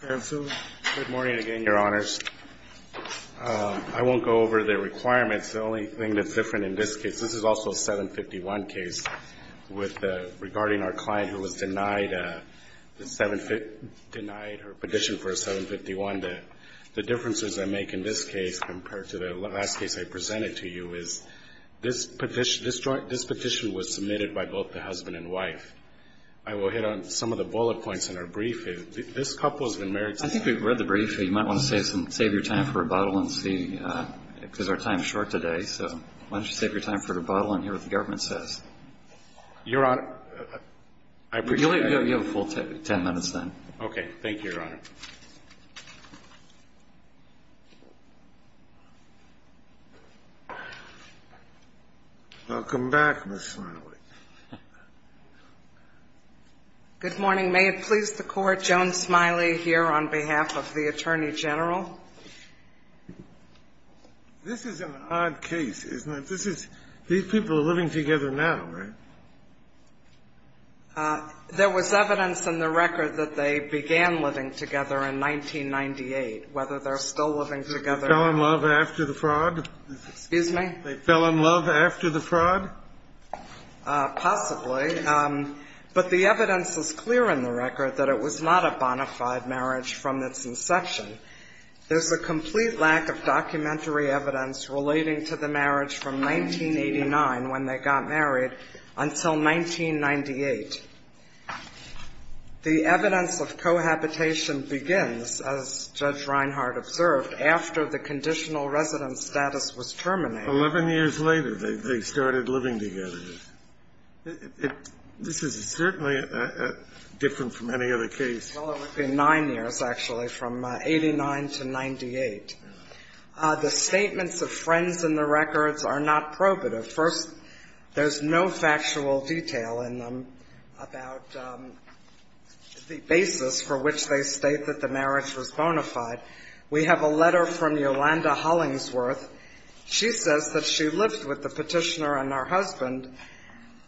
Good morning again, Your Honors. I won't go over the requirements. The only thing that's different in this case, this is also a 751 case, regarding our client who was denied her petition for a 751. The differences I make in this case compared to the last case I presented to you is this petition was submitted by both the husband and wife. I will hit on some of the bullet points in our brief. This couple has been married to each other. I think we've read the brief. You might want to save your time for rebuttal and see, because our time is short today. Why don't you save your time for rebuttal and hear what the government says. Your Honor, I appreciate it. You have a full ten minutes then. Okay. Thank you, Your Honor. Welcome back, Ms. Smiley. Good morning. May it please the Court, Joan Smiley here on behalf of the Attorney General. This is an odd case, isn't it? These people are living together now, right? There was evidence in the record that they began living together in 1998, whether they're still living together or not. Did they fell in love after the fraud? Excuse me? Did they fell in love after the fraud? Possibly. But the evidence is clear in the record that it was not a bona fide marriage from its inception. There's a complete lack of documentary evidence relating to the marriage from 1989, when they got married, until 1998. The evidence of cohabitation begins, as Judge Reinhart observed, after the conditional residence status was terminated. Eleven years later, they started living together. This is certainly different from any other case. Well, it would be nine years, actually, from 89 to 98. The statements of friends in the records are not probative. First, there's no factual detail in them about the basis for which they state that the marriage was bona fide. We have a letter from Yolanda Hollingsworth. She says that she lived with the petitioner and her husband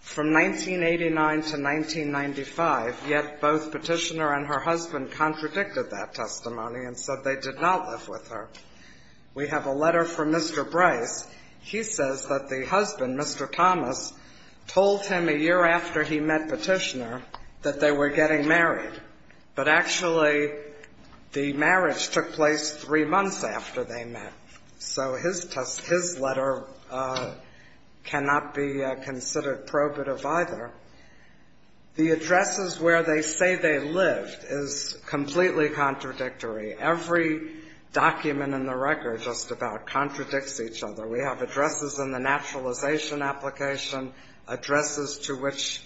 from 1989 to 1995, yet both petitioner and her husband contradicted that testimony and said they did not live with her. We have a letter from Mr. Bryce. He says that the husband, Mr. Thomas, told him a year after he met petitioner that they were getting married, but actually the marriage took place three months after they met. So his letter cannot be considered probative, either. The addresses where they say they lived is completely contradictory. Every document in the record just about contradicts each other. We have addresses in the naturalization application, addresses to which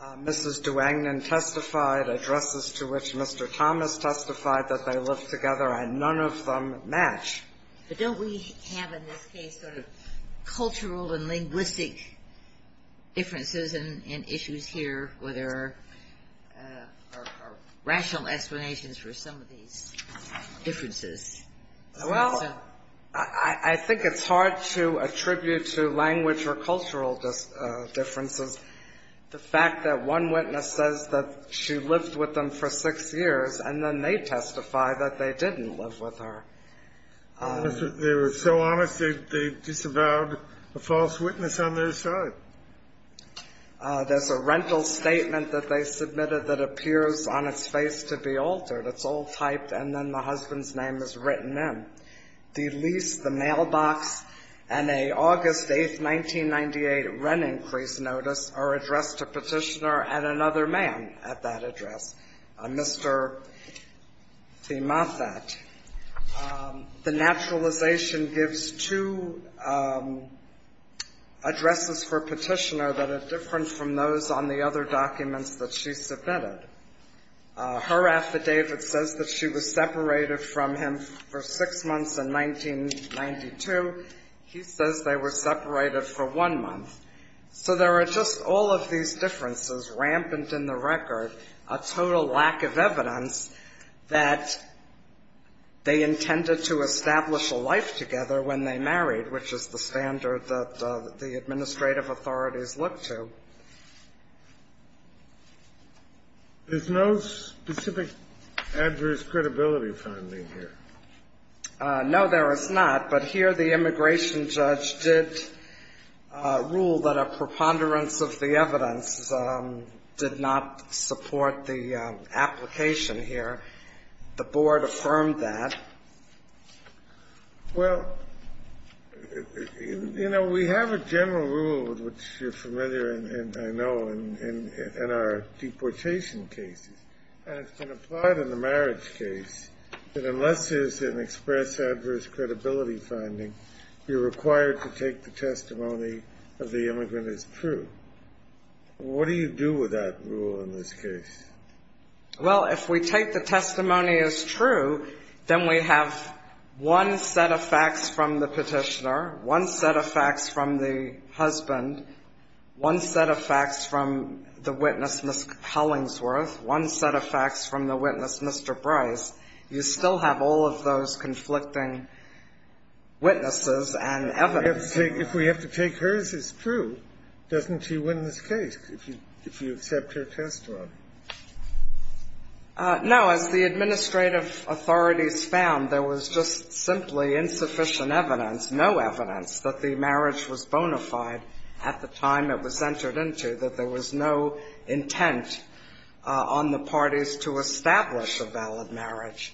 Mrs. Duangdon testified, addresses to which Mr. Thomas testified that they lived together, and none of them match. But don't we have, in this case, sort of cultural and linguistic differences in issues here where there are rational explanations for some of these differences? Well, I think it's hard to attribute to language or cultural differences the fact that one witness says that she lived with them for six years and then they testify that they didn't live with her. They were so honest they disavowed a false witness on their side. There's a rental statement that they submitted that appears on its face to be altered. It's all typed and then the husband's name is written in. The lease, the mailbox, and an August 8, 1998 rent increase notice are addressed to Petitioner and another man at that address, Mr. Thiemathat. The naturalization gives two addresses for Petitioner that are different from those on the other documents that she submitted. Her affidavit says that she was separated from him for six months in 1992. He says they were separated for one month. So there are just all of these differences rampant in the record, a total lack of evidence that they intended to establish a life together when they married, which is the standard that the administrative authorities look to. There's no specific adverse credibility finding here. No, there is not. But here the immigration judge did rule that a preponderance of the evidence did not support the application here. The board affirmed that. Well, you know, we have a general rule, which you're familiar in, I know, in our deportation cases, and it's been applied in the marriage case, that unless there's an express adverse credibility finding, you're required to take the testimony of the immigrant as true. What do you do with that rule in this case? Well, if we take the testimony as true, then we have one set of facts from the Petitioner, one set of facts from the husband, one set of facts from the witness, Ms. Hellingsworth, one set of facts from the witness, Mr. Bryce. You still have all of those conflicting witnesses and evidence. If we have to take hers as true, doesn't she win this case if you accept her testimony? No. As the administrative authorities found, there was just simply insufficient evidence, no evidence, that the marriage was bona fide at the time it was entered into, that there was no intent on the parties to establish a valid marriage.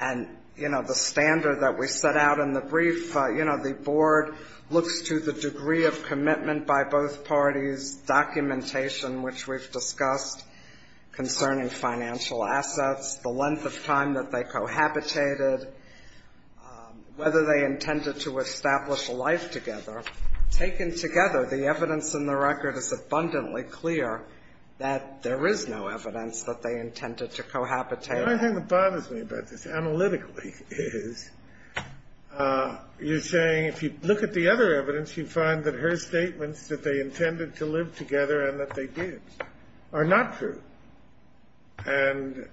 And, you know, the standard that we set out in the brief, you know, the board looks to the degree of commitment by both parties, documentation which we've discussed concerning financial assets, the length of time that they cohabitated, whether they intended to establish a life together. Taken together, the evidence in the record is abundantly clear that there is no evidence that they intended to cohabitate. The only thing that bothers me about this analytically is you're saying if you look at the other evidence, you find that her statements that they intended to live together and that they did are not true. And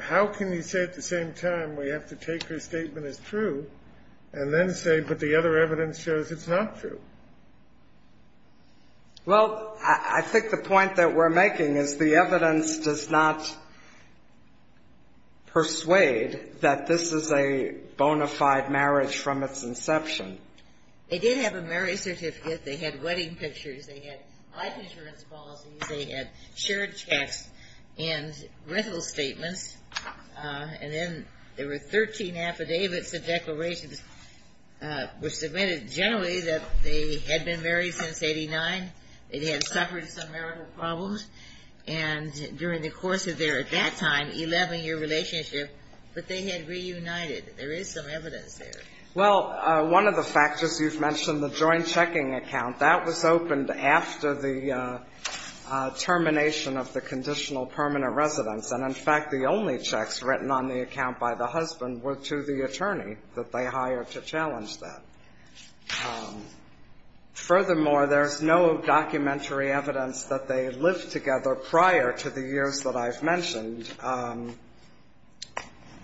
how can you say at the same time we have to take her statement as true and then say, but the other evidence shows it's not true? Well, I think the point that we're making is the evidence does not persuade that this is a bona fide marriage from its inception. They did have a marriage certificate. They had wedding pictures. They had life insurance policies. They had shared checks and rental statements. And then there were 13 affidavits and declarations which submitted generally that they had been married since 89. They had suffered some marital problems. And during the course of their, at that time, 11-year relationship, that they had reunited. There is some evidence there. Well, one of the factors you've mentioned, the joint checking account, that was opened after the termination of the conditional permanent residence. And, in fact, the only checks written on the account by the husband were to the attorney that they hired to challenge that. Furthermore, there's no documentary evidence that they lived together prior to the years that I've mentioned.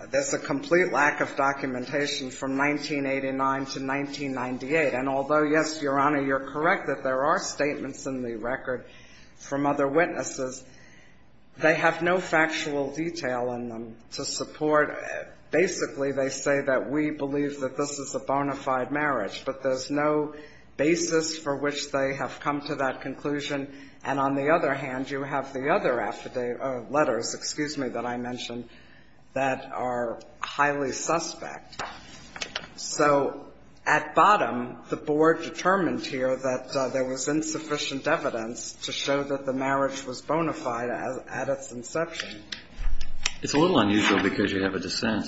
There's a complete lack of documentation from 1989 to 1998. And although, yes, Your Honor, you're correct that there are statements in the record from other witnesses, they have no factual detail in them to support. Basically, they say that we believe that this is a bona fide marriage, but there's no basis for which they have come to that conclusion. And on the other hand, you have the other affidavit letters, excuse me, that I mentioned, that are highly suspect. So at bottom, the Board determined here that there was insufficient evidence to show that the marriage was bona fide at its inception. It's a little unusual because you have a dissent.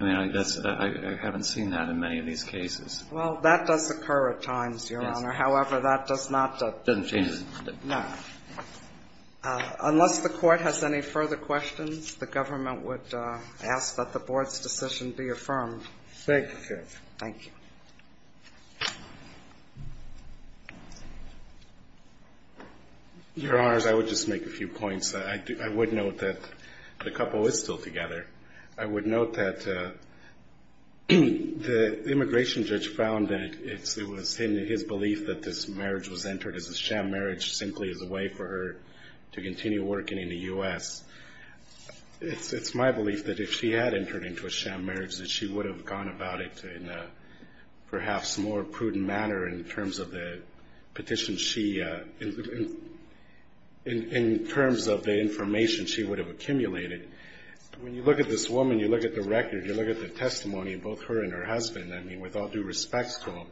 I mean, I guess I haven't seen that in many of these cases. Well, that does occur at times, Your Honor. However, that does not. It doesn't change. No. Unless the Court has any further questions, the government would ask that the Board's decision be affirmed. Thank you, Judge. Thank you. Your Honors, I would just make a few points. I would note that the couple is still together. I would note that the immigration judge found that it was in his belief that this marriage was entered as a sham marriage, simply as a way for her to continue working in the U.S. It's my belief that if she had entered into a sham marriage, that she would have gone about it in a perhaps more prudent manner in terms of the petition she, in terms of the information she would have accumulated. When you look at this woman, you look at the record, you look at the testimony of both her and her husband, I mean, with all due respects to him,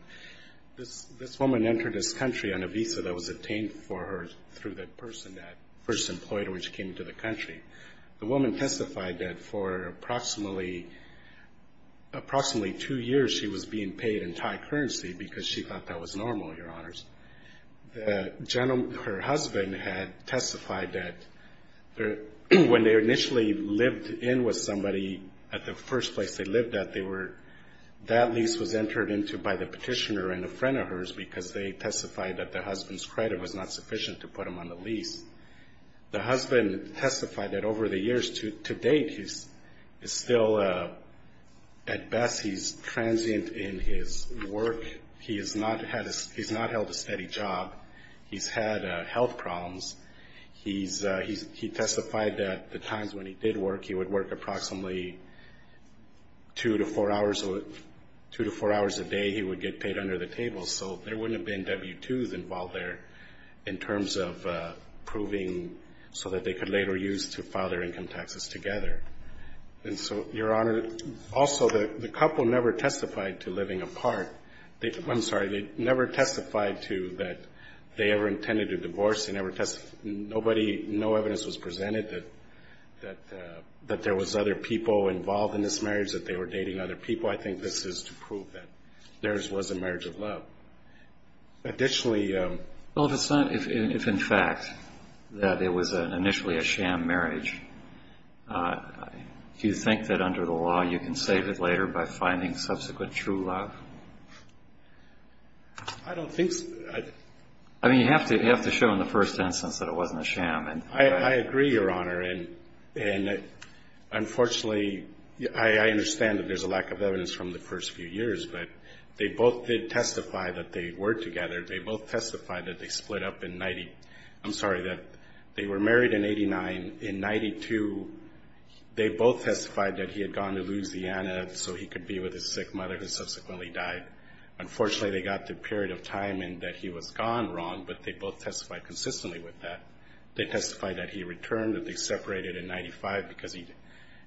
this woman entered this country on a visa that was obtained for her through the person that first employed her when she came into the country. The woman testified that for approximately two years, she was being paid in Thai currency because she thought that was normal, Your Honors. Her husband had testified that when they initially lived in with somebody, at the first place they lived at, that lease was entered into by the petitioner and a friend of hers because they testified that the husband's credit was not sufficient to put them on the lease. The husband testified that over the years to date, he's still at best, he's transient in his work. He's not held a steady job. He's had health problems. He testified that the times when he did work, he would work approximately two to four hours a day. He would get paid under the table, so there wouldn't have been W-2s involved there in terms of proving so that they could later use to file their income taxes together. And so, Your Honor, also the couple never testified to living apart. I'm sorry, they never testified to that they ever intended to divorce. They never testified. Nobody, no evidence was presented that there was other people involved in this marriage, that they were dating other people. Additionally. Well, if it's not, if in fact that it was initially a sham marriage, do you think that under the law you can save it later by finding subsequent true love? I don't think so. I mean, you have to show in the first instance that it wasn't a sham. I agree, Your Honor, and unfortunately, I understand that there's a lack of evidence from the first few years, but they both did testify that they were together. They both testified that they split up in, I'm sorry, that they were married in 89. In 92, they both testified that he had gone to Louisiana so he could be with his sick mother, who subsequently died. Unfortunately, they got the period of time in that he was gone wrong, but they both testified consistently with that. They testified that he returned, that they separated in 95 because he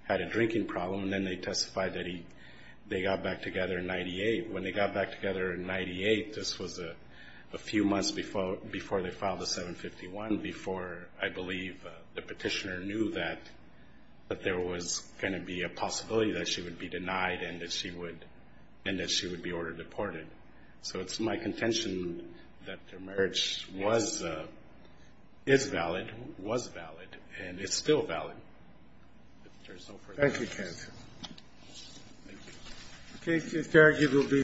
had a drinking problem, and then they testified that they got back together in 98. When they got back together in 98, this was a few months before they filed a 751, before I believe the petitioner knew that there was going to be a possibility that she would be denied and that she would be ordered deported. So it's my contention that their marriage is valid, was valid, and it's still valid. Thank you, counsel. Thank you.